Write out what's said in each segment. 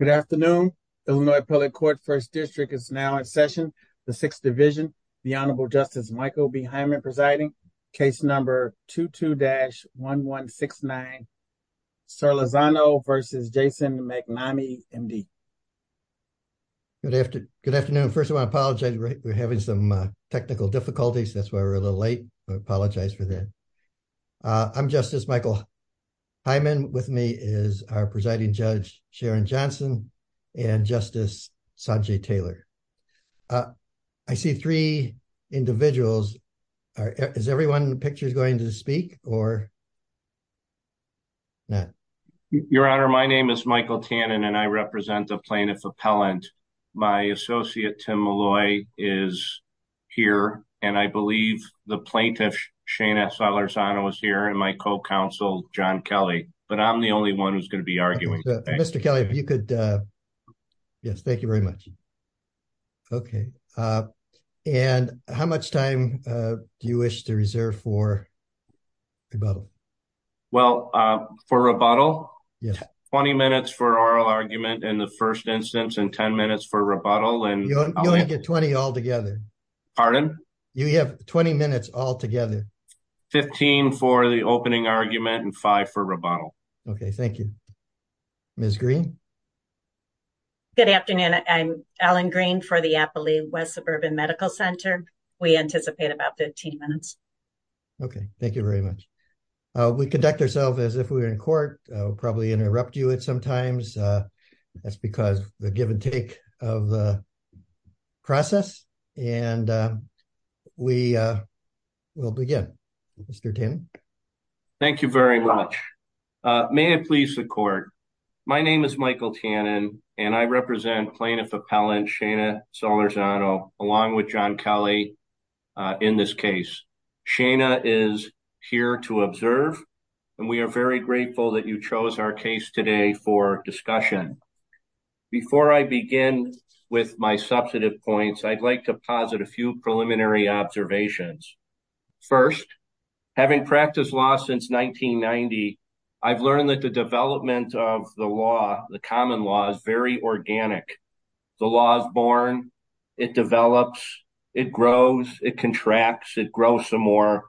Good afternoon. Illinois Public Court First District is now in session. The Sixth Division, the Honorable Justice Michael B. Hyman presiding. Case number 22-1169, Zorlazano v. Jason Magnami, M.D. Good afternoon. First of all, I apologize. We're having some technical difficulties. That's why we're a little late. I apologize for that. I'm Justice Michael Hyman. With me is our presiding judge, Sharon Johnson, and Justice Sanjay Taylor. I see three individuals. Is everyone in the picture going to speak or not? Your Honor, my name is Michael Tannen, and I represent the plaintiff appellant. My associate, Tim Malloy, is here, and I believe the plaintiff, Shaina Zorlazano, is here, and my co-counsel, John Kelly, but I'm the only one who's going to be arguing. Mr. Kelly, if you could. Yes, thank you very much. Okay. And how much time do you wish to reserve for rebuttal? Well, for rebuttal, 20 minutes for oral argument in the first instance and 10 minutes for rebuttal. You only get 20 altogether. Pardon? You have 20 minutes altogether. 15 for the opening argument and 5 for rebuttal. Okay, thank you. Ms. Green? Good afternoon. I'm Ellen Green for the Appalooie West Suburban Medical Center. We anticipate about 15 minutes. Okay, thank you very much. We conduct ourselves as if we were in court. We'll probably interrupt you at some times. That's because the give and take of the process, and we will begin. Mr. Tannen? Thank you very much. May it please the court. My name is Michael Tannen, and I represent plaintiff appellant, Shana Solarzano, along with John Kelly in this case. Shana is here to observe, and we are very grateful that you chose our case today for discussion. Before I begin with my substantive points, I'd like to posit a few preliminary observations. First, having practiced law since 1990, I've learned that the development of the law, the common law, is very organic. The law is born, it develops, it grows, it contracts, it grows some more,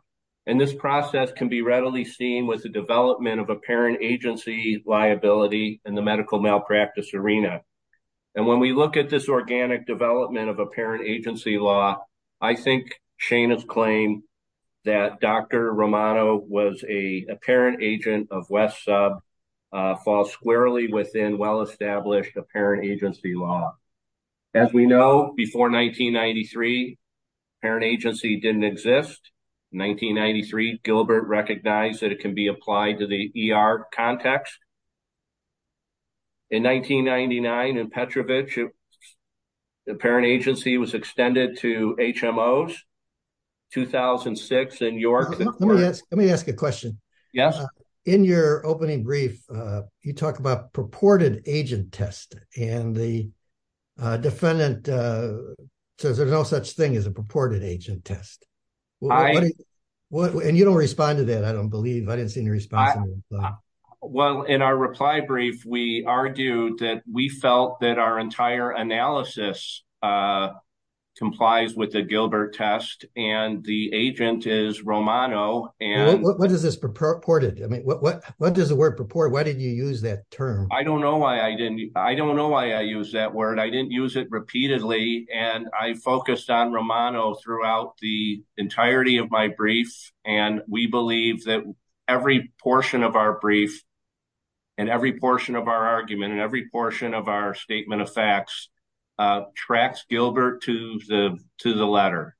and this process can be readily seen with the development of apparent agency liability in the medical malpractice arena. When we look at this organic development of apparent agency law, I think Shana's claim that Dr. Romano was an apparent agent of West Sub falls squarely within well-established apparent agency law. As we know, before 1993, apparent agency didn't exist. In 1993, Gilbert recognized that it can be applied to the ER context. In 1999, in Petrovich, the apparent agency was extended to HMOs, 2006 in York. Let me ask a question. Yes. In your opening brief, you talk about purported agent test, and the defendant says there's no such thing as a purported agent test. And you don't respond to that, I don't believe. I didn't see any response. Well, in our reply brief, we argued that we felt that our entire analysis complies with the Gilbert test, and the agent is Romano. What is this purported? I mean, what does the word purport, why did you use that term? I don't know why I didn't. I don't know why I use that word. I didn't use it repeatedly. And I focused on Romano throughout the entirety of my brief. And we believe that every portion of our brief and every portion of our argument and every portion of our statement of facts tracks Gilbert to the letter.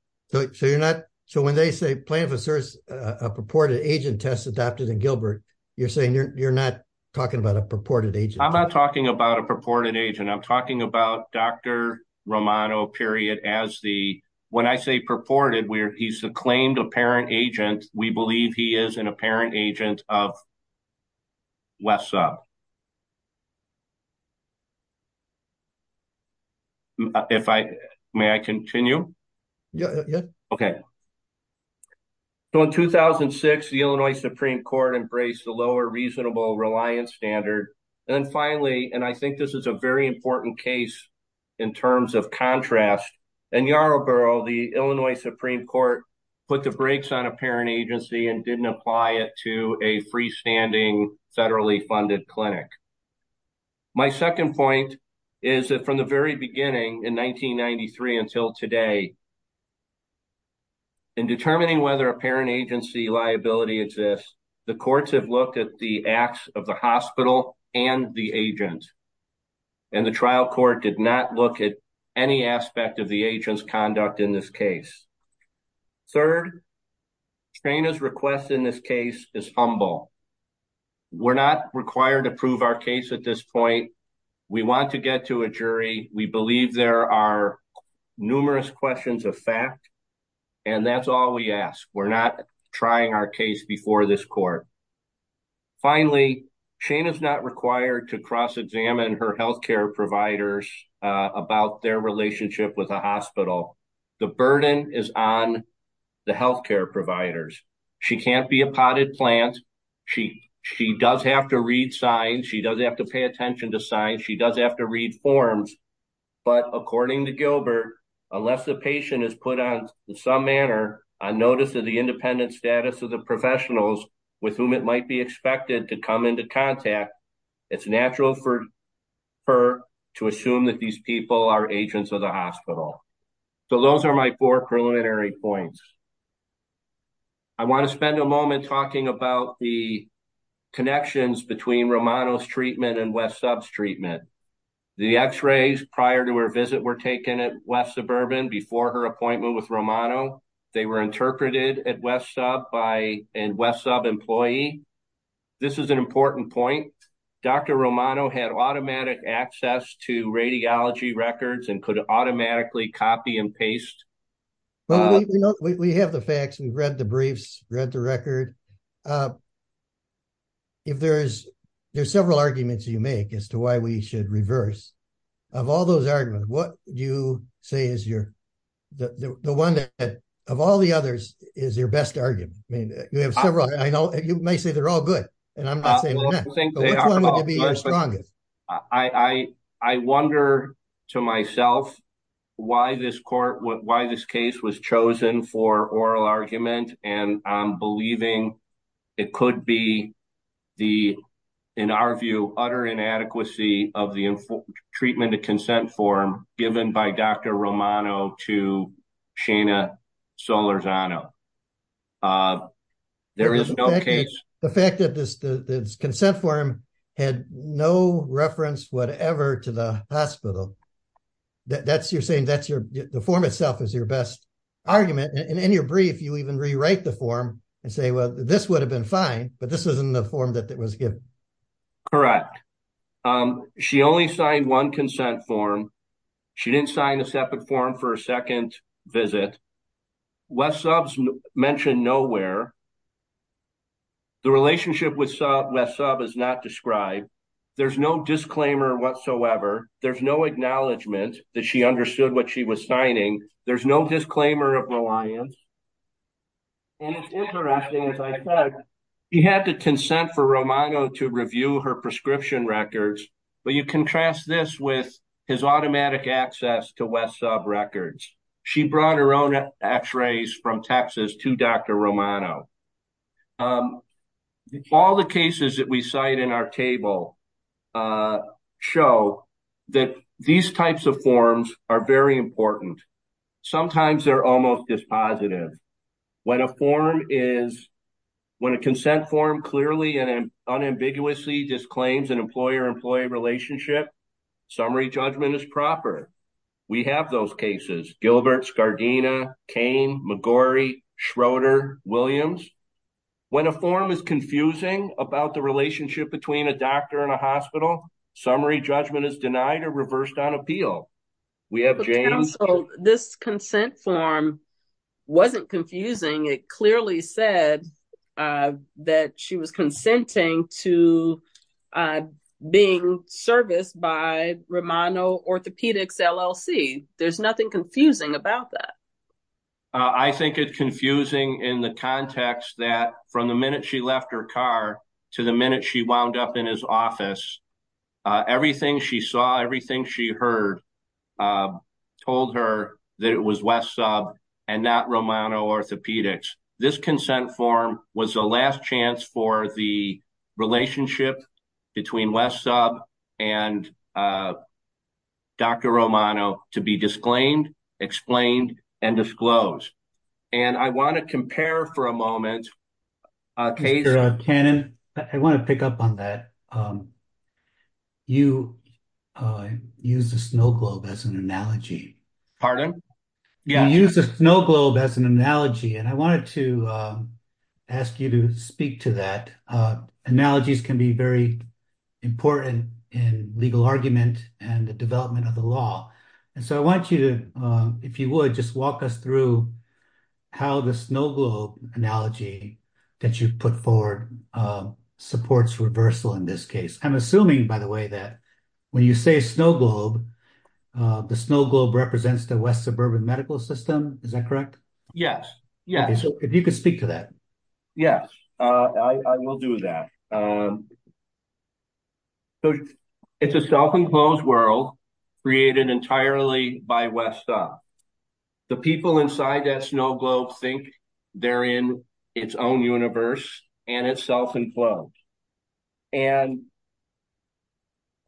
So when they say plaintiff asserts a purported agent test adopted in Gilbert, you're saying you're not talking about a purported agent? I'm not talking about a purported agent. I'm talking about Dr. Romano, period, as the, when I say purported, he's the claimed apparent agent. We believe he is an apparent agent of West Sub. If I may, I continue. Yeah, yeah. Okay. So, in 2006, the Illinois Supreme Court embraced the lower reasonable reliance standard. And then finally, and I think this is a very important case. In terms of contrast, and Yarrowboro, the Illinois Supreme Court put the brakes on a parent agency and didn't apply it to a freestanding federally funded clinic. My second point is that from the very beginning in 1993 until today. In determining whether a parent agency liability exists, the courts have looked at the acts of the hospital and the agent. And the trial court did not look at any aspect of the agent's conduct in this case. Third, Shaina's request in this case is humble. We're not required to prove our case at this point. We want to get to a jury. We believe there are numerous questions of fact. And that's all we ask. We're not trying our case before this court. Finally, Shaina is not required to cross-examine her health care providers about their relationship with a hospital. The burden is on the health care providers. She can't be a potted plant. She does have to read signs. She does have to pay attention to signs. She does have to read forms. But according to Gilbert, unless the patient is put on, in some manner, on notice of the independent status of the professionals with whom it might be expected to come into contact, it's natural for her to assume that these people are agents of the hospital. So those are my four preliminary points. I want to spend a moment talking about the connections between Romano's treatment and West Sub's treatment. The x-rays prior to her visit were taken at West Suburban before her appointment with Romano. They were interpreted at West Sub by a West Sub employee. This is an important point. Dr. Romano had automatic access to radiology records and could automatically copy and paste. We have the facts. We've read the briefs, read the record. There's several arguments you make as to why we should reverse. Of all those arguments, what do you say is the one that, of all the others, is your best argument? You have several. You may say they're all good, and I'm not saying they're not. Which one would be your strongest? I wonder to myself why this case was chosen for oral argument, and I'm believing it could be the, in our view, utter inadequacy of the treatment of consent form given by Dr. Romano to Shana Solorzano. There is no case. The fact that this consent form had no reference whatever to the hospital, that's you're saying the form itself is your best argument? And in your brief, you even rewrite the form and say, well, this would have been fine, but this isn't the form that was given. Correct. She only signed one consent form. She didn't sign a separate form for a second visit. West Subs mentioned nowhere. The relationship with West Sub is not described. There's no disclaimer whatsoever. There's no acknowledgment that she understood what she was signing. There's no disclaimer of reliance. And it's interesting, as I said, she had to consent for Romano to review her prescription records. But you contrast this with his automatic access to West Sub records. She brought her own x-rays from Texas to Dr. Romano. All the cases that we cite in our table show that these types of forms are very important. Sometimes they're almost dispositive. When a form is, when a consent form clearly and unambiguously disclaims an employer-employee relationship, summary judgment is proper. We have those cases. Gilbert, Scardina, Cain, McGorry, Schroeder, Williams. When a form is confusing about the relationship between a doctor and a hospital, summary judgment is denied or reversed on appeal. This consent form wasn't confusing. It clearly said that she was consenting to being serviced by Romano Orthopedics LLC. There's nothing confusing about that. I think it's confusing in the context that from the minute she left her car to the minute she wound up in his office, everything she saw, everything she heard told her that it was West Sub and not Romano Orthopedics. This consent form was the last chance for the relationship between West Sub and Dr. Romano to be disclaimed, explained, and disclosed. And I want to compare for a moment. Dr. Cannon, I want to pick up on that. You used the snow globe as an analogy. Pardon? You used the snow globe as an analogy, and I wanted to ask you to speak to that. Analogies can be very important in legal argument and the development of the law. I want you to, if you would, just walk us through how the snow globe analogy that you put forward supports reversal in this case. I'm assuming, by the way, that when you say snow globe, the snow globe represents the West Suburban medical system. Is that correct? Yes. If you could speak to that. Yes, I will do that. So it's a self-enclosed world created entirely by West Sub. The people inside that snow globe think they're in its own universe and it's self-enclosed. And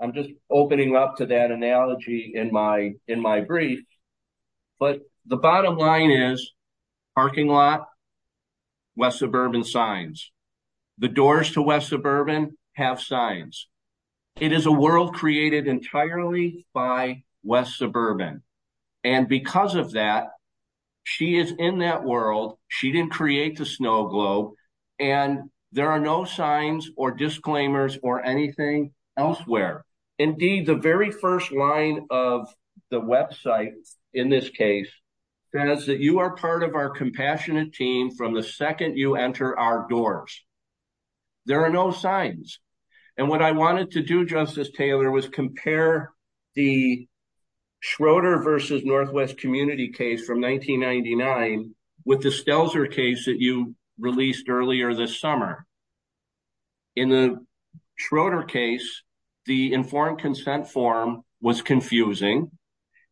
I'm just opening up to that analogy in my brief. But the bottom line is parking lot, West Suburban signs. The doors to West Suburban have signs. It is a world created entirely by West Suburban. And because of that, she is in that world. She didn't create the snow globe. And there are no signs or disclaimers or anything elsewhere. Indeed, the very first line of the website in this case says that you are part of our compassionate team from the second you enter our doors. There are no signs. And what I wanted to do, Justice Taylor, was compare the Schroeder versus Northwest Community case from 1999 with the Stelzer case that you released earlier this summer. In the Schroeder case, the informed consent form was confusing.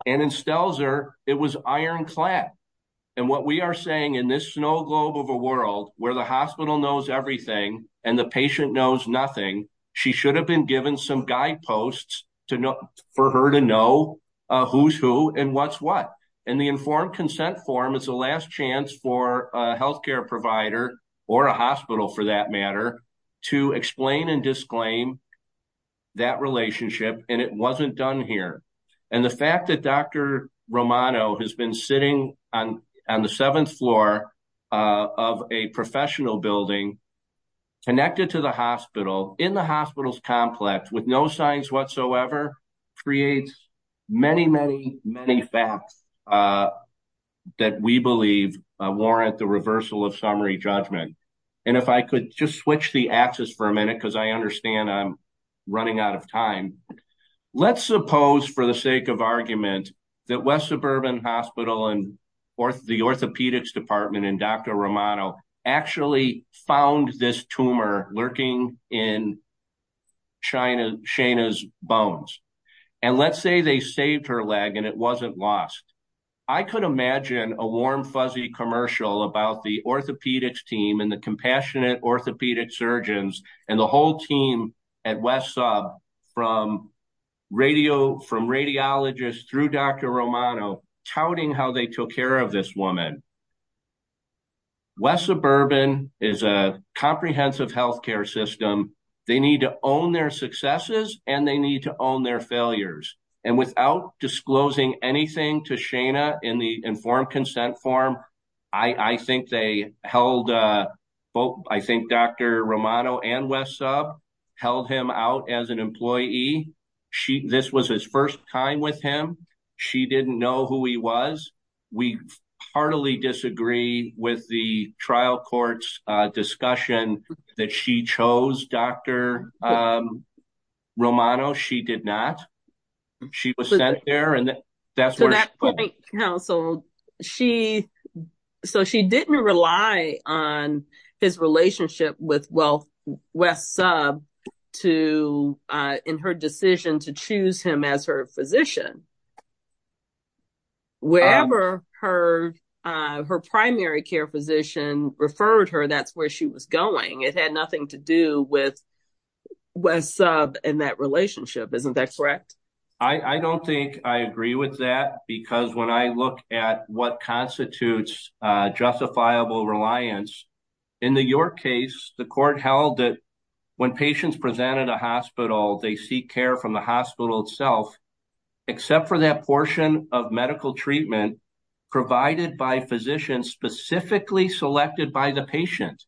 And in Stelzer, it was ironclad. And what we are saying in this snow globe of a world where the hospital knows everything and the patient knows nothing, she should have been given some guideposts for her to know who's who and what's what. And the informed consent form is the last chance for a healthcare provider or a hospital for that matter to explain and disclaim that relationship. And it wasn't done here. And the fact that Dr. Romano has been sitting on the seventh floor of a professional building connected to the hospital in the hospital's complex with no signs whatsoever creates many, many, many facts that we believe warrant the reversal of summary judgment. And if I could just switch the axis for a minute because I understand I'm running out of time. Let's suppose for the sake of argument that West Suburban Hospital and the orthopedics department and Dr. Romano actually found this tumor lurking in Shaina's bones. And let's say they saved her leg and it wasn't lost. I could imagine a warm, fuzzy commercial about the orthopedics team and the compassionate orthopedic surgeons and the whole team at West Sub from radiologists through Dr. Romano touting how they took care of this woman. West Suburban is a comprehensive healthcare system. They need to own their successes and they need to own their failures. And without disclosing anything to Shaina in the informed consent form, I think Dr. Romano and West Sub held him out as an employee. This was his first time with him. She didn't know who he was. We heartily disagree with the trial court's discussion that she chose Dr. Romano. She did not. She was sent there. So she didn't rely on his relationship with West Sub in her decision to choose him as her physician. Wherever her primary care physician referred her, that's where she was going. It had nothing to do with West Sub and that relationship. Isn't that correct? I don't think I agree with that because when I look at what constitutes justifiable reliance, in the York case, the court held that when patients presented a hospital, they seek care from the hospital itself, except for that portion of medical treatment provided by physicians specifically selected by the patient.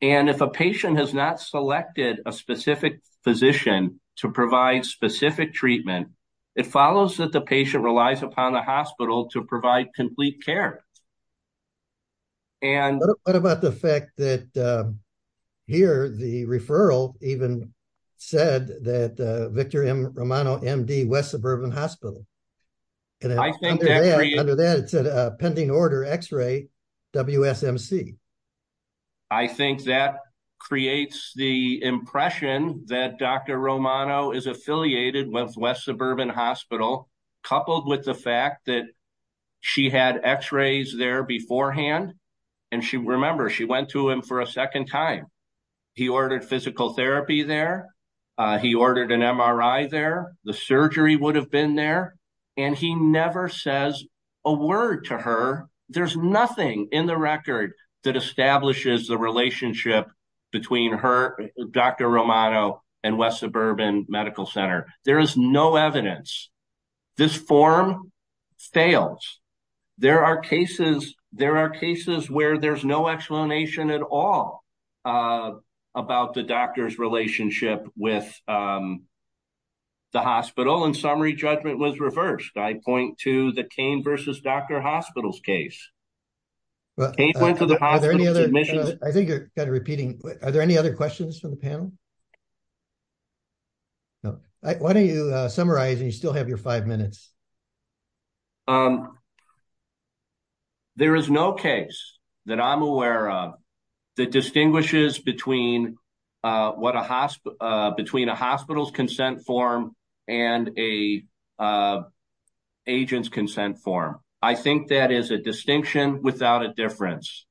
And if a patient has not selected a specific physician to provide specific treatment, it follows that the patient relies upon the hospital to provide complete care. What about the fact that here the referral even said that Victor Romano, MD, West Suburban Hospital. I think that creates the impression that Dr. Romano is affiliated with West Suburban Hospital, coupled with the fact that she had x-rays there beforehand. And remember, she went to him for a second time. He ordered physical therapy there. He ordered an MRI there. The surgery would have been there. And he never says a word to her. There's nothing in the record that establishes the relationship between her, Dr. Romano, and West Suburban Medical Center. There is no evidence. This form fails. There are cases where there's no explanation at all about the doctor's relationship with the hospital. In summary, judgment was reversed. I point to the Kane v. Dr. Hospital's case. Can you point to the hospital's admission? I think you're kind of repeating. Are there any other questions from the panel? Why don't you summarize? You still have your five minutes. There is no case that I'm aware of that distinguishes between a hospital's consent form and an agent's consent form. I think that is a distinction without a difference.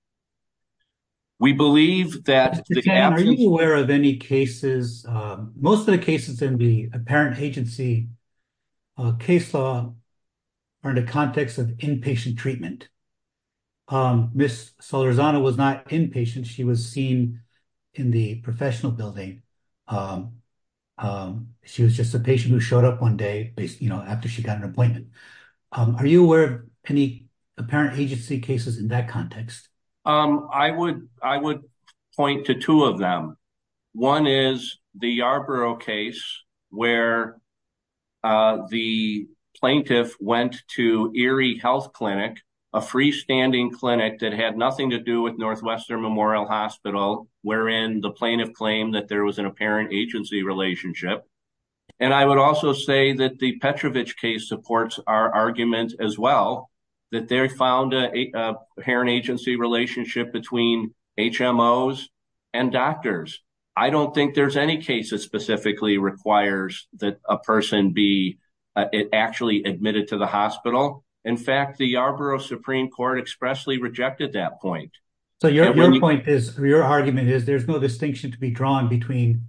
Are you aware of any cases, most of the cases in the apparent agency case law are in the context of inpatient treatment? Ms. Solorzano was not inpatient. She was seen in the professional building. She was just a patient who showed up one day after she got an appointment. Are you aware of any apparent agency cases in that context? I would point to two of them. One is the Yarborough case where the plaintiff went to Erie Health Clinic, a freestanding clinic that had nothing to do with Northwestern Memorial Hospital, wherein the plaintiff claimed that there was an apparent agency relationship. I would also say that the Petrovich case supports our argument as well, that they found an apparent agency relationship between HMOs and doctors. I don't think there's any case that specifically requires that a person be actually admitted to the hospital. In fact, the Yarborough Supreme Court expressly rejected that point. So your argument is there's no distinction to be drawn between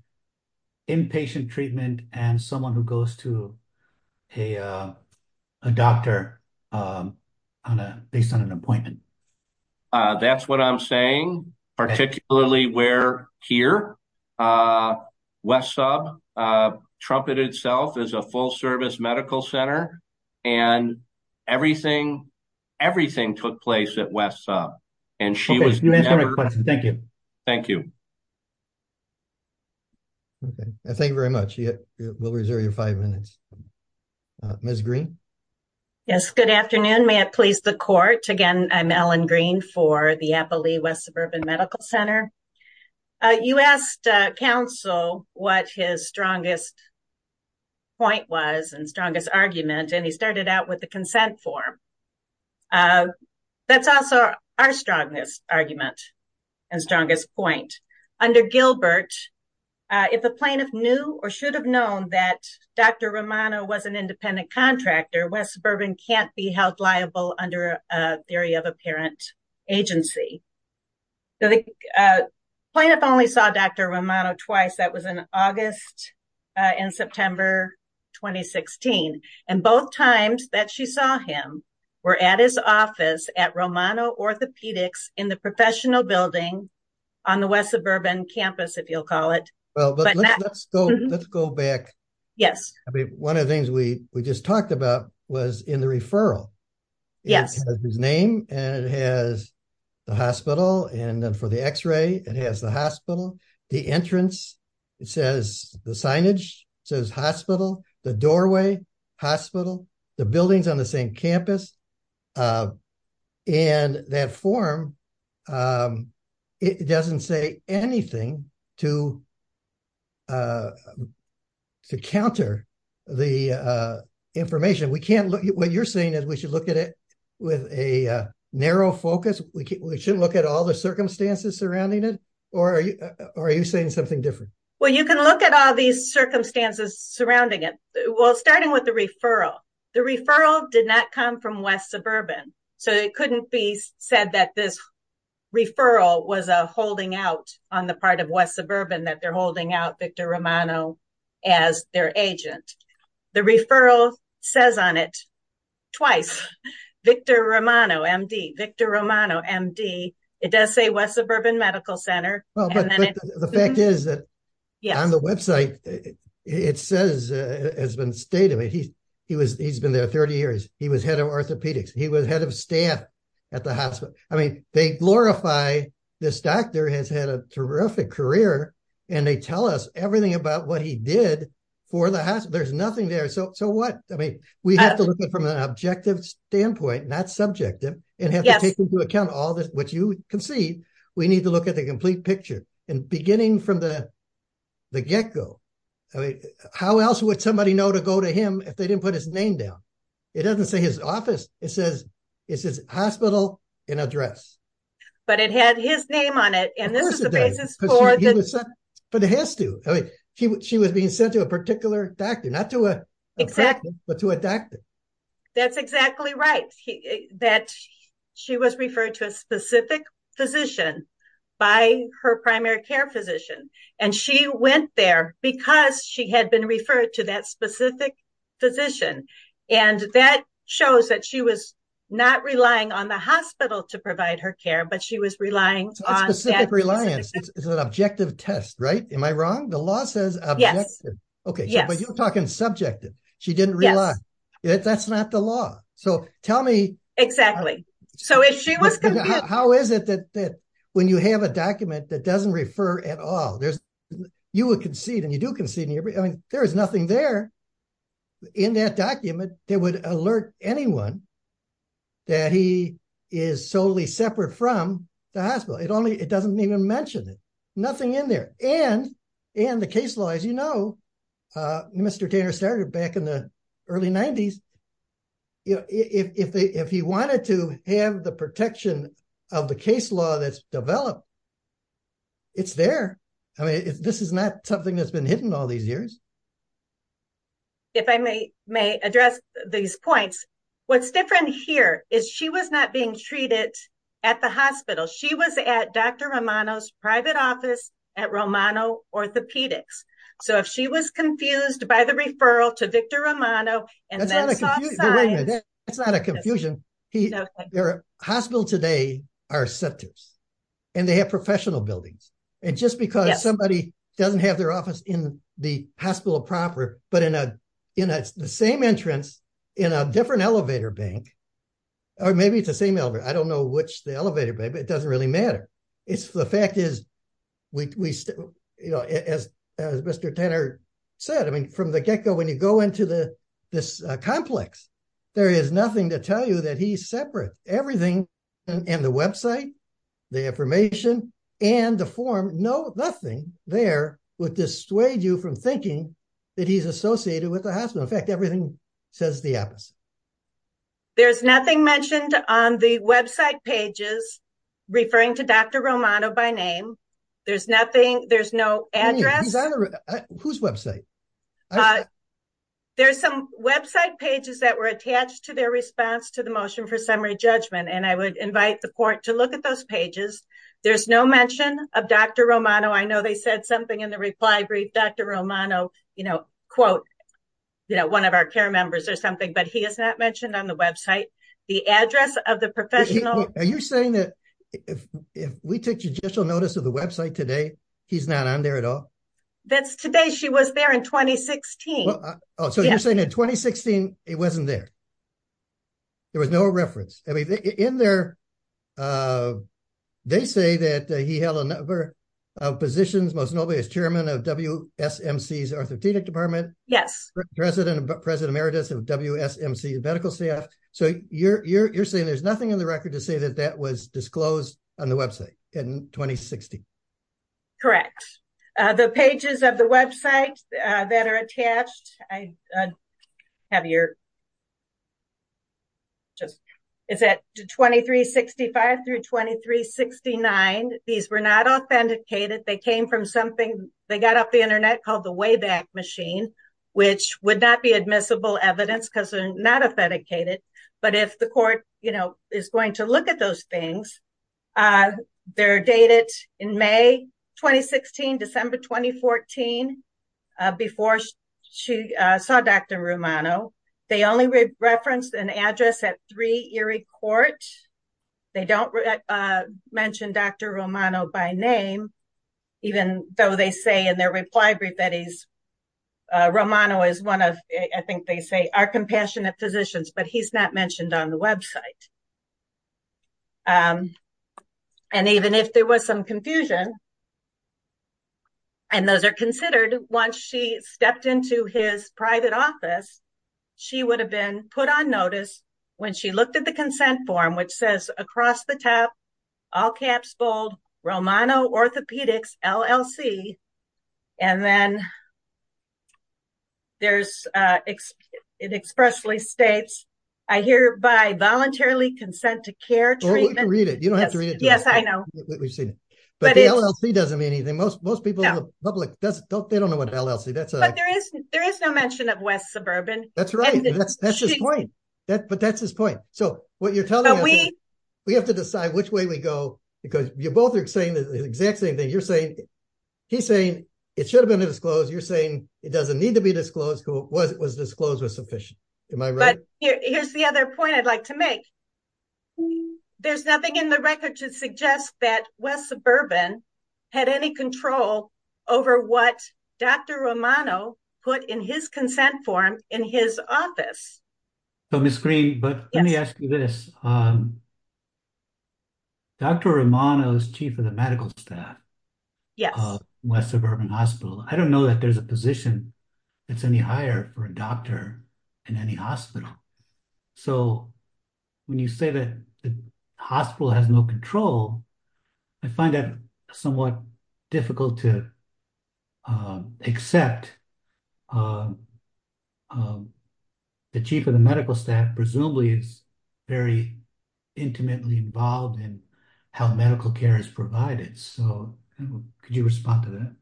inpatient treatment and someone who goes to a doctor based on an appointment. That's what I'm saying. Particularly where here, West Sub, Trumpet itself is a full-service medical center, and everything took place at West Sub. Okay, you answered my question. Thank you. Thank you. Thank you very much. We'll reserve your five minutes. Ms. Green? Yes, good afternoon. May it please the court? Again, I'm Ellen Green for the Applee West Suburban Medical Center. You asked counsel what his strongest point was and strongest argument, and he started out with the consent form. That's also our strongest argument and strongest point. Under Gilbert, if a plaintiff knew or should have known that Dr. Romano was an independent contractor, West Suburban can't be held liable under a theory of apparent agency. The plaintiff only saw Dr. Romano twice. That was in August and September 2016. And both times that she saw him were at his office at Romano Orthopedics in the professional building on the West Suburban campus, if you'll call it. Let's go back. Yes. One of the things we just talked about was in the referral. Yes. It has his name, and it has the hospital, and then for the x-ray, it has the hospital, the entrance. It says the signage says hospital, the doorway, hospital, the buildings on the same campus. And that form, it doesn't say anything to counter the information. What you're saying is we should look at it with a narrow focus? We shouldn't look at all the circumstances surrounding it? Or are you saying something different? Well, you can look at all these circumstances surrounding it. Well, starting with the referral, the referral did not come from West Suburban. So it couldn't be said that this referral was a holding out on the part of West Suburban that they're holding out Victor Romano as their agent. The referral says on it twice, Victor Romano, MD, Victor Romano, MD. It does say West Suburban Medical Center. The fact is that on the website, it says, has been stated, he's been there 30 years. He was head of orthopedics. He was head of staff at the hospital. I mean, they glorify this doctor has had a terrific career, and they tell us everything about what he did for the hospital. There's nothing there. So what? I mean, we have to look at it from an objective standpoint, not subjective, and have to take into account all this, which you can see. We need to look at the complete picture and beginning from the get-go. How else would somebody know to go to him if they didn't put his name down? It doesn't say his office. It says it's his hospital and address. But it had his name on it. And this is the basis for it. But it has to. She was being sent to a particular doctor, not to a practice, but to a doctor. That's exactly right, that she was referred to a specific physician by her primary care physician. And she went there because she had been referred to that specific physician. And that shows that she was not relying on the hospital to provide her care, but she was relying on that. It's not specific reliance. It's an objective test, right? Am I wrong? The law says objective. Yes. Okay. But you're talking subjective. She didn't rely. Yes. That's not the law. So tell me. Exactly. So if she was confused. How is it that when you have a document that doesn't refer at all, you would concede and you do concede. I mean, there is nothing there in that document that would alert anyone that he is solely separate from the hospital. It doesn't even mention it. Nothing in there. And the case law, as you know, Mr. Tanner started back in the early 90s. If he wanted to have the protection of the case law that's developed, it's there. I mean, this is not something that's been hidden all these years. If I may address these points, what's different here is she was not being treated at the hospital. She was at Dr. Romano's private office at Romano Orthopedics. So if she was confused by the referral to Victor Romano and then. That's not a confusion. Hospital today are sectors and they have professional buildings. And just because somebody doesn't have their office in the hospital proper, but in the same entrance in a different elevator bank. Or maybe it's the same. I don't know which the elevator, but it doesn't really matter. It's the fact is, as Mr. Tanner said, I mean, from the get go, when you go into this complex, there is nothing to tell you that he's separate. Everything and the website, the information and the form. No, nothing there would dissuade you from thinking that he's associated with the hospital. In fact, everything says the opposite. There's nothing mentioned on the website pages referring to Dr. Romano by name. There's nothing. There's no address. Whose website? There's some website pages that were attached to their response to the motion for summary judgment. And I would invite the court to look at those pages. There's no mention of Dr. Romano. I know they said something in the reply brief. Dr. Romano, you know, quote, you know, one of our care members or something, but he is not mentioned on the website. The address of the professional. Are you saying that if we take judicial notice of the website today, he's not on there at all? That's today. She was there in 2016. So you're saying in 2016, it wasn't there. There was no reference. I mean, in there, they say that he held a number of positions. Most nobody is chairman of W. S. M. C's orthopedic department. Yes. President President emeritus of W. S. M. C. Medical staff. So you're saying there's nothing in the record to say that that was disclosed on the website in 2016. Correct. The pages of the website that are attached. I have your. Just it's at 2365 through 2369. These were not authenticated. They came from something they got off the Internet called the Wayback Machine, which would not be admissible evidence because they're not authenticated. But if the court is going to look at those things, they're dated in May 2016, December 2014. Before she saw Dr. Romano, they only referenced an address at three Erie Court. They don't mention Dr. Romano by name, even though they say in their reply brief that he's Romano is one of I think they say are compassionate physicians, but he's not mentioned on the website. And even if there was some confusion. And those are considered once she stepped into his private office, she would have been put on notice when she looked at the consent form, which says across the top, all caps, bold Romano orthopedics LLC. And then there's it expressly states, I hear by voluntarily consent to care. Read it. You don't have to read it. Yes, I know. We've seen, but he doesn't mean anything. Most, most people in the public doesn't don't they don't know what LLC. That's what there is. There is no mention of West Suburban. That's his point. So, what you're telling me, we have to decide which way we go, because you both are saying the exact same thing you're saying. He's saying it should have been disclosed you're saying it doesn't need to be disclosed who was it was disclosed was sufficient. Am I right. Here's the other point I'd like to make. There's nothing in the record to suggest that West Suburban had any control over what Dr Romano put in his consent form in his office. So, Miss green, but let me ask you this. Dr Romano is chief of the medical staff. Yes, West Suburban Hospital. I don't know that there's a position. It's any higher for a doctor in any hospital. So, when you say that the hospital has no control. I find that somewhat difficult to accept. The chief of the medical staff presumably is very intimately involved in how medical care is provided. So, could you respond to that.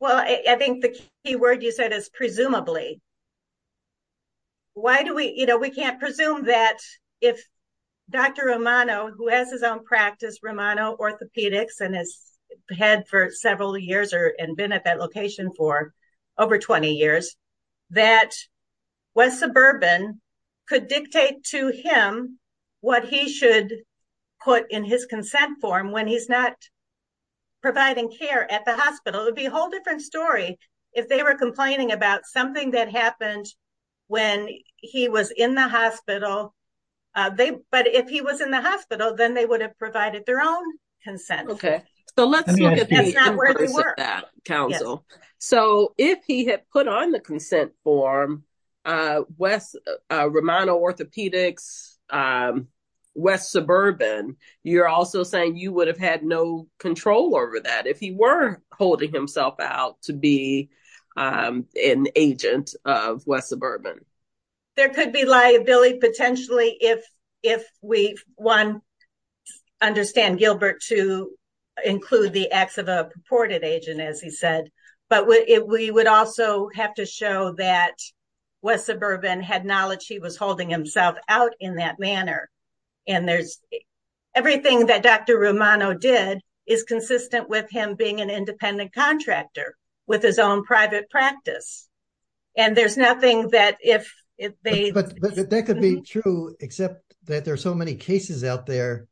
Well, I think the key word you said is presumably. Why do we, you know, we can't presume that if Dr Romano who has his own practice Romano orthopedics and has had for several years or and been at that location for over 20 years that West Suburban could dictate to him. What he should put in his consent form when he's not. Providing care at the hospital would be a whole different story. If they were complaining about something that happened. When he was in the hospital, they, but if he was in the hospital, then they would have provided their own consent. Okay. So, let's look at that council. So, if he had put on the consent form West Romano orthopedics. West Suburban, you're also saying you would have had no control over that if he were holding himself out to be an agent of West Suburban. There could be liability potentially if, if we want understand Gilbert to include the acts of a purported agent as he said, but we would also have to show that West Suburban had knowledge he was holding himself out in that manner. And there's everything that Dr Romano did is consistent with him being an independent contractor with his own private practice. And there's nothing that if they, but that could be true, except that there's so many cases out there.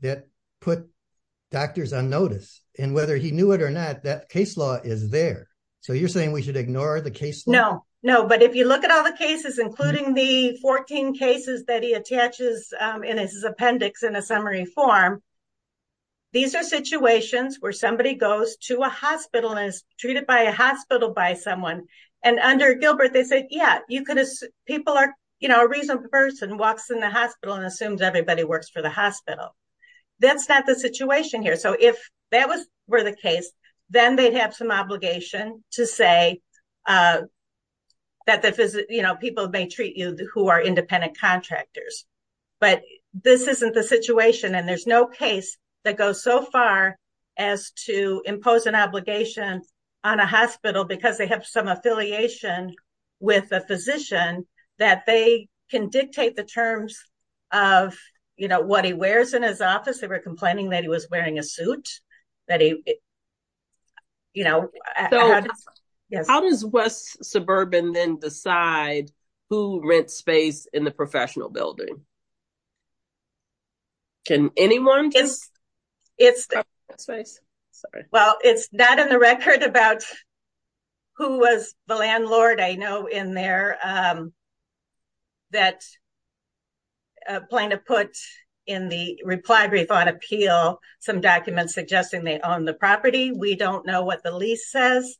That put doctors on notice, and whether he knew it or not that case law is there. So you're saying we should ignore the case. No, no, but if you look at all the cases, including the 14 cases that he attaches in his appendix in a summary form. These are situations where somebody goes to a hospital and is treated by a hospital by someone, and under Gilbert they say, yeah, you could people are, you know, a reasonable person walks in the hospital and assumes everybody works for the hospital. That's not the situation here. So if that was where the case, then they'd have some obligation to say that the, you know, people may treat you who are independent contractors. But this isn't the situation and there's no case that goes so far as to impose an obligation on a hospital because they have some affiliation with a physician that they can dictate the terms of, you know, what he wears in his office. They were complaining that he was wearing a suit that he, you know, how does West suburban then decide who rent space in the professional building? Can anyone. It's sorry. Well, it's not in the record about. Who was the landlord I know in there. That plan to put in the reply brief on appeal some documents suggesting they own the property. We don't know what the lease says.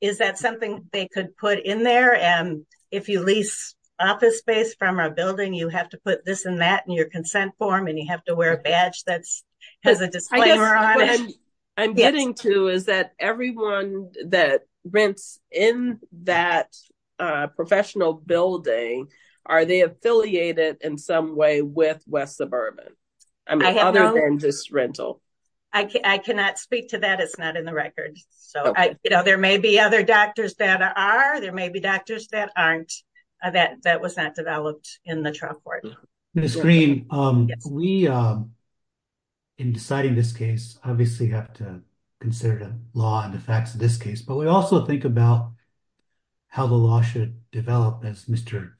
Is that something they could put in there and if you lease office space from a building, you have to put this in that in your consent form and you have to wear a badge that's has a disclaimer on it. I'm getting to is that everyone that rents in that professional building. Are they affiliated in some way with West suburban. Other than just rental. I cannot speak to that. It's not in the record. So, you know, there may be other doctors that are there may be doctors that aren't that that was not developed in the chalkboard screen. We in deciding this case, obviously have to consider the law and the facts of this case, but we also think about how the law should develop as Mr.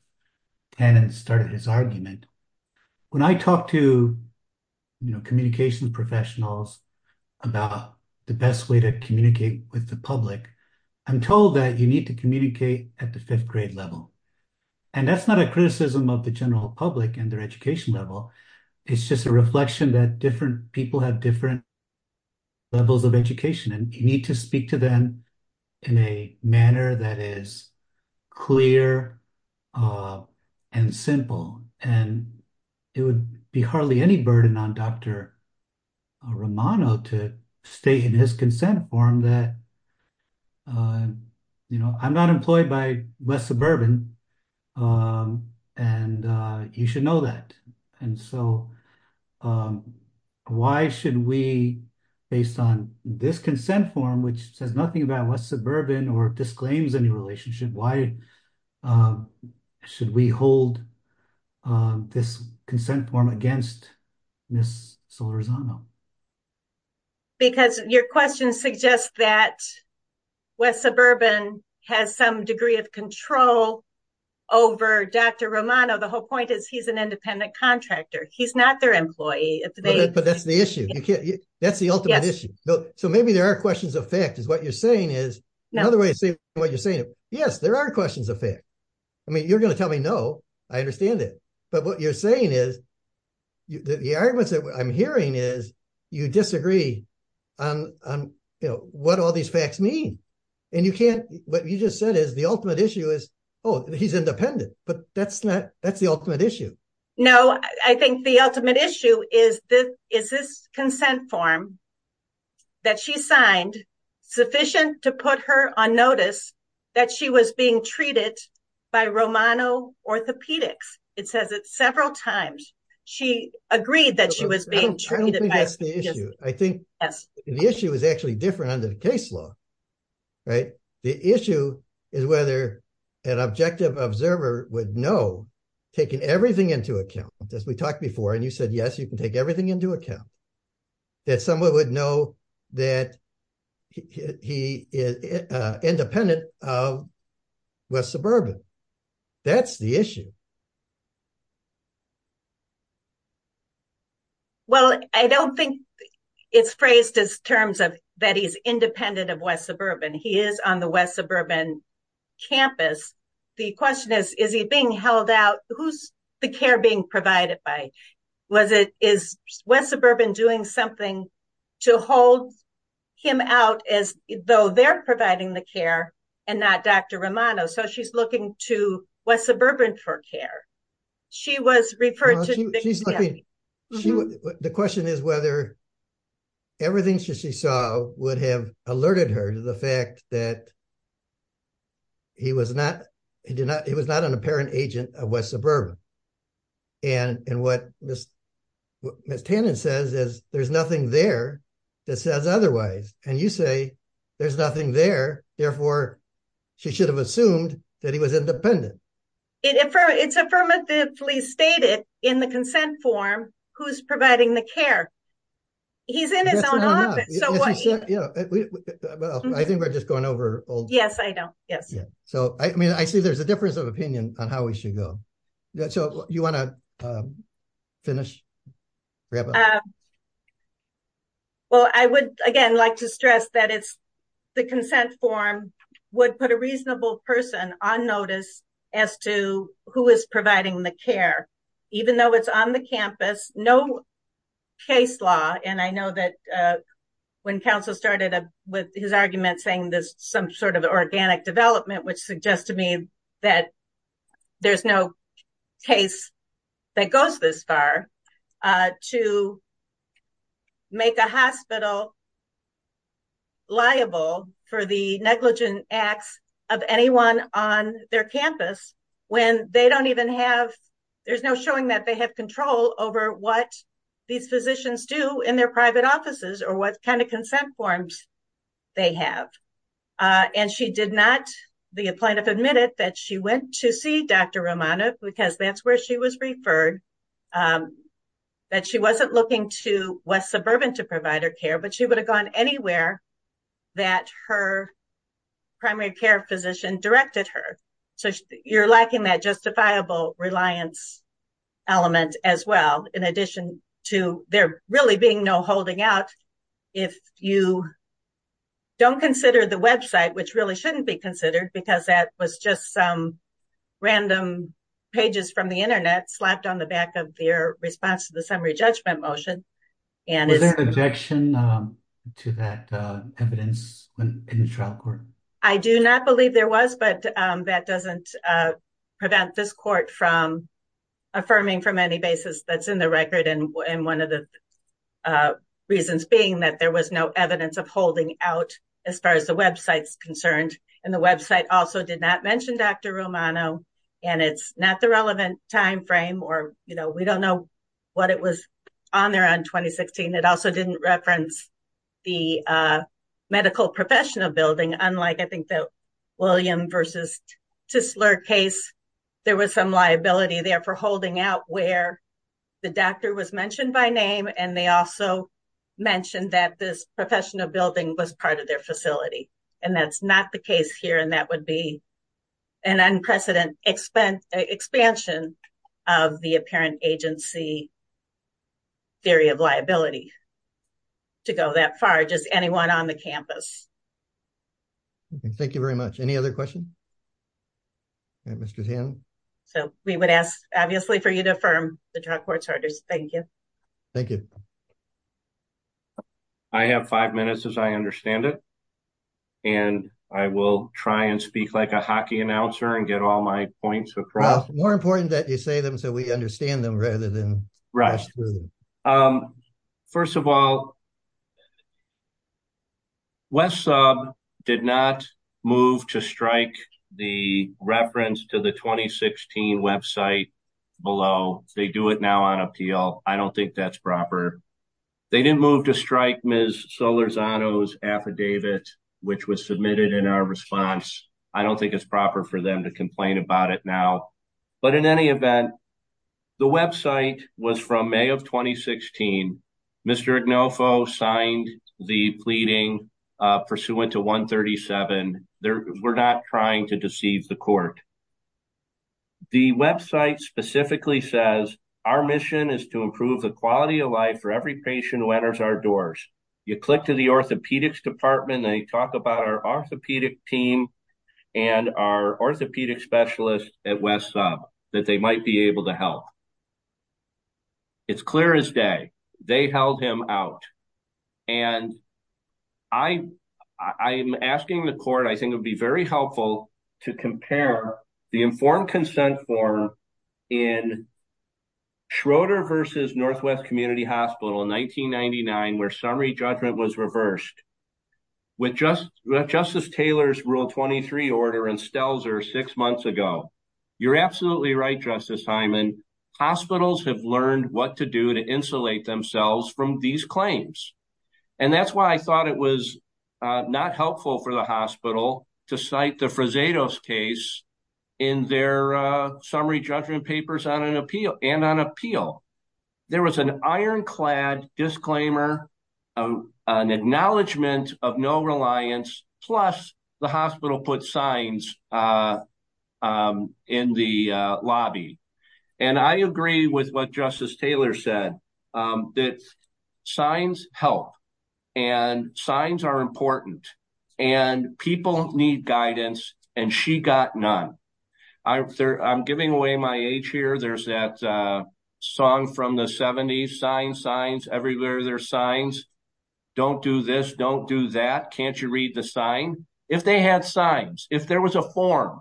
And started his argument. When I talked to, you know, communication professionals about the best way to communicate with the public. I'm told that you need to communicate at the fifth grade level. And that's not a criticism of the general public and their education level. It's just a reflection that different people have different levels of education and you need to speak to them in a manner that is clear and simple, and it would be hardly any burden on Dr. Romano to stay in his consent form that You know, I'm not employed by West suburban And you should know that. And so Why should we based on this consent form which says nothing about West suburban or disclaims any relationship. Why Should we hold This consent form against this solar zone. Because your question suggests that West suburban has some degree of control over Dr. Romano. The whole point is he's an independent contractor. He's not their employee. But that's the issue. That's the ultimate issue. So maybe there are questions of fact is what you're saying is Another way to say what you're saying. Yes, there are questions of fact. I mean, you're going to tell me. No, I understand it. But what you're saying is The arguments that I'm hearing is you disagree on, you know, what all these facts mean and you can't what you just said is the ultimate issue is, oh, he's independent, but that's not that's the ultimate issue. No, I think the ultimate issue is that is this consent form. That she signed sufficient to put her on notice that she was being treated by Romano orthopedics. It says it several times. She agreed that she was being treated. I think the issue is actually different under the case law. Right. The issue is whether an objective observer would know taking everything into account as we talked before. And you said, yes, you can take everything into account. That someone would know that he is independent of West Suburban. That's the issue. Well, I don't think it's phrased as terms of that. He's independent of West Suburban. He is on the West Suburban campus. The question is, is he being held out? Who's the care being provided by? Was it is West Suburban doing something to hold him out as though they're providing the care and not Dr. Romano. So she's looking to West Suburban for care. She was referred to the question is whether everything she saw would have alerted her to the fact that. He was not he did not it was not an apparent agent of West Suburban. And in what Miss Tannen says is there's nothing there that says otherwise. And you say there's nothing there. Therefore, she should have assumed that he was independent. It's affirmatively stated in the consent form who's providing the care. He's in his own office. I think we're just going over. Yes, I don't. Yes. So, I mean, I see there's a difference of opinion on how we should go. So you want to finish. Well, I would, again, like to stress that it's the consent form would put a reasonable person on notice as to who is providing the care, even though it's on the campus. There's no case law. And I know that when counsel started with his argument saying this, some sort of organic development, which suggests to me that there's no case that goes this far to make a hospital liable for the negligent acts of anyone on their campus. When they don't even have there's no showing that they have control over what these physicians do in their private offices or what kind of consent forms they have. And she did not. The plaintiff admitted that she went to see Dr. Romano because that's where she was referred that she wasn't looking to West Suburban to provide her care, but she would have gone anywhere that her. The primary care physician directed her. So you're lacking that justifiable reliance element as well. In addition to there really being no holding out. If you don't consider the website, which really shouldn't be considered because that was just some random pages from the Internet slapped on the back of their response to the summary judgment motion. Objection to that evidence in the trial court. I do not believe there was, but that doesn't prevent this court from affirming from any basis that's in the record. And one of the reasons being that there was no evidence of holding out as far as the website's concerned, and the website also did not mention Dr. Romano and it's not the relevant timeframe or we don't know what it was on there on 2016. It also didn't reference the medical professional building. Unlike, I think that William versus to slur case, there was some liability there for holding out where the doctor was mentioned by name. And they also mentioned that this professional building was part of their facility. And that's not the case here. And that would be an unprecedented expense expansion of the apparent agency. Theory of liability to go that far. Just anyone on the campus. Thank you very much. Any other question. So, we would ask, obviously for you to affirm the court starters. Thank you. Thank you. I have five minutes as I understand it. And I will try and speak like a hockey announcer and get all my points across more important that you say them so we understand them rather than rush. First of all, West sub did not move to strike the reference to the 2016 website below, they do it now on appeal. I don't think that's proper. They didn't move to strike Ms. Solar's on those affidavit, which was submitted in our response. I don't think it's proper for them to complain about it now. But in any event, the website was from May of 2016. Mr. Agnofo signed the pleading pursuant to 137. There were not trying to deceive the court. The website specifically says, our mission is to improve the quality of life for every patient who enters our doors, you click to the orthopedics department they talk about our orthopedic team, and our orthopedic specialist at West sub that they might be able to help. It's clear as day. They held him out. And I, I am asking the court I think it'd be very helpful to compare the informed consent form in Schroeder versus Northwest Community Hospital in 1999 where summary judgment was reversed. Justice Taylor's rule 23 order and Stelzer six months ago. You're absolutely right, Justice Hyman. Hospitals have learned what to do to insulate themselves from these claims. And that's why I thought it was not helpful for the hospital to cite the Frisato's case in their summary judgment papers on an appeal and on appeal. There was an ironclad disclaimer of an acknowledgement of no reliance, plus the hospital put signs in the lobby. And I agree with what Justice Taylor said that signs help and signs are important, and people need guidance, and she got none. I'm giving away my age here there's that song from the 70s sign signs everywhere there signs. Don't do this, don't do that. Can't you read the sign. If they had signs, if there was a form.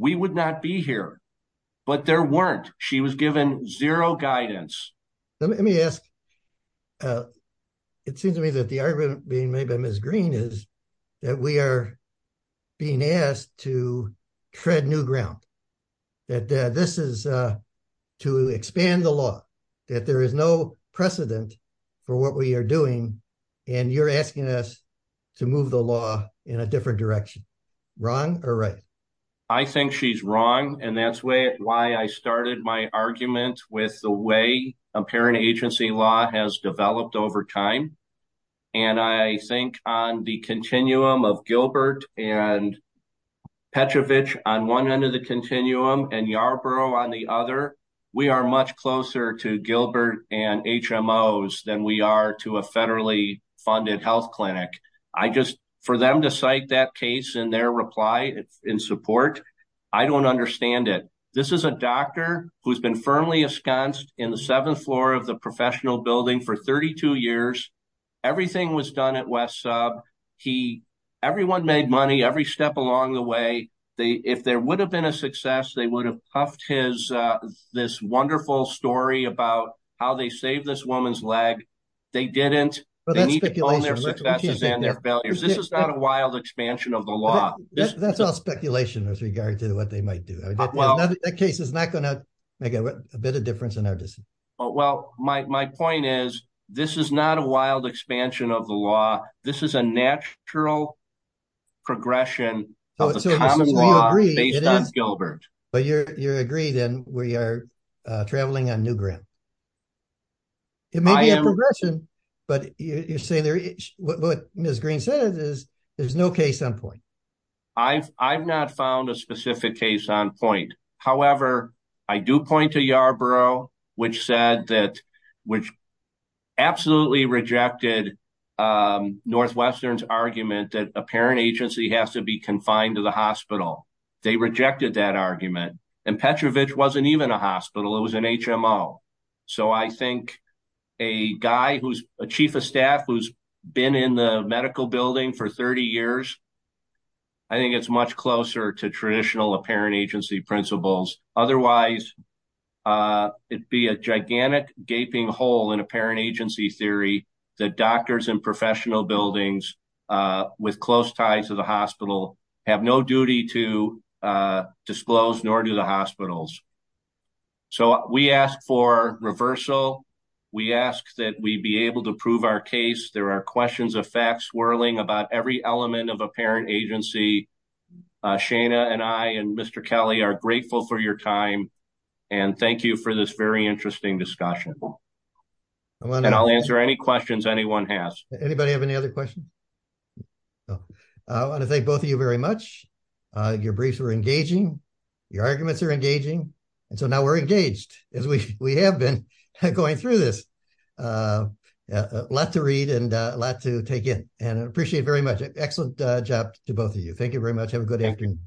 We would not be here. But there weren't, she was given zero guidance. Let me ask. It seems to me that the argument being made by Miss Green is that we are being asked to tread new ground that this is to expand the law that there is no precedent for what we are doing. And you're asking us to move the law in a different direction. Wrong or right. I think she's wrong. And that's why I started my argument with the way a parent agency law has developed over time. And I think on the continuum of Gilbert and Petrovich on one end of the continuum and Yarborough on the other, we are much closer to Gilbert and HMOs than we are to a federally funded health clinic. I just for them to cite that case and their reply in support. I don't understand it. This is a doctor who's been firmly ensconced in the seventh floor of the professional building for 32 years. Everything was done at West sub. He, everyone made money every step along the way. They, if there would have been a success they would have puffed his this wonderful story about how they save this woman's leg. They didn't, they need to own their successes and their failures. This is not a wild expansion of the law. That's all speculation as regards to what they might do. That case is not going to make a bit of difference in our decision. Well, my point is, this is not a wild expansion of the law. This is a natural progression of the common law based on Gilbert. But you're, you're agreed then we are traveling on new ground. It may be a progression, but you're saying there is what Ms. Green says is there's no case on point. I've, I've not found a specific case on point. However, I do point to Yarborough, which said that, which absolutely rejected Northwestern's argument that a parent agency has to be confined to the hospital. They rejected that argument and Petrovich wasn't even a hospital. It was an HMO. So I think a guy who's a chief of staff who's been in the medical building for 30 years. I think it's much closer to traditional apparent agency principles. Otherwise, it'd be a gigantic gaping hole in apparent agency theory that doctors and professional buildings with close ties to the hospital have no duty to disclose, nor do the hospitals. So we ask for reversal. We ask that we be able to prove our case. There are questions of facts swirling about every element of apparent agency. Shana and I and Mr. Kelly are grateful for your time. And thank you for this very interesting discussion. And I'll answer any questions anyone has. Anybody have any other questions. I want to thank both of you very much. Your briefs were engaging. Your arguments are engaging. And so now we're engaged as we have been going through this. A lot to read and a lot to take in and appreciate very much. Excellent job to both of you. Thank you very much. Have a good afternoon.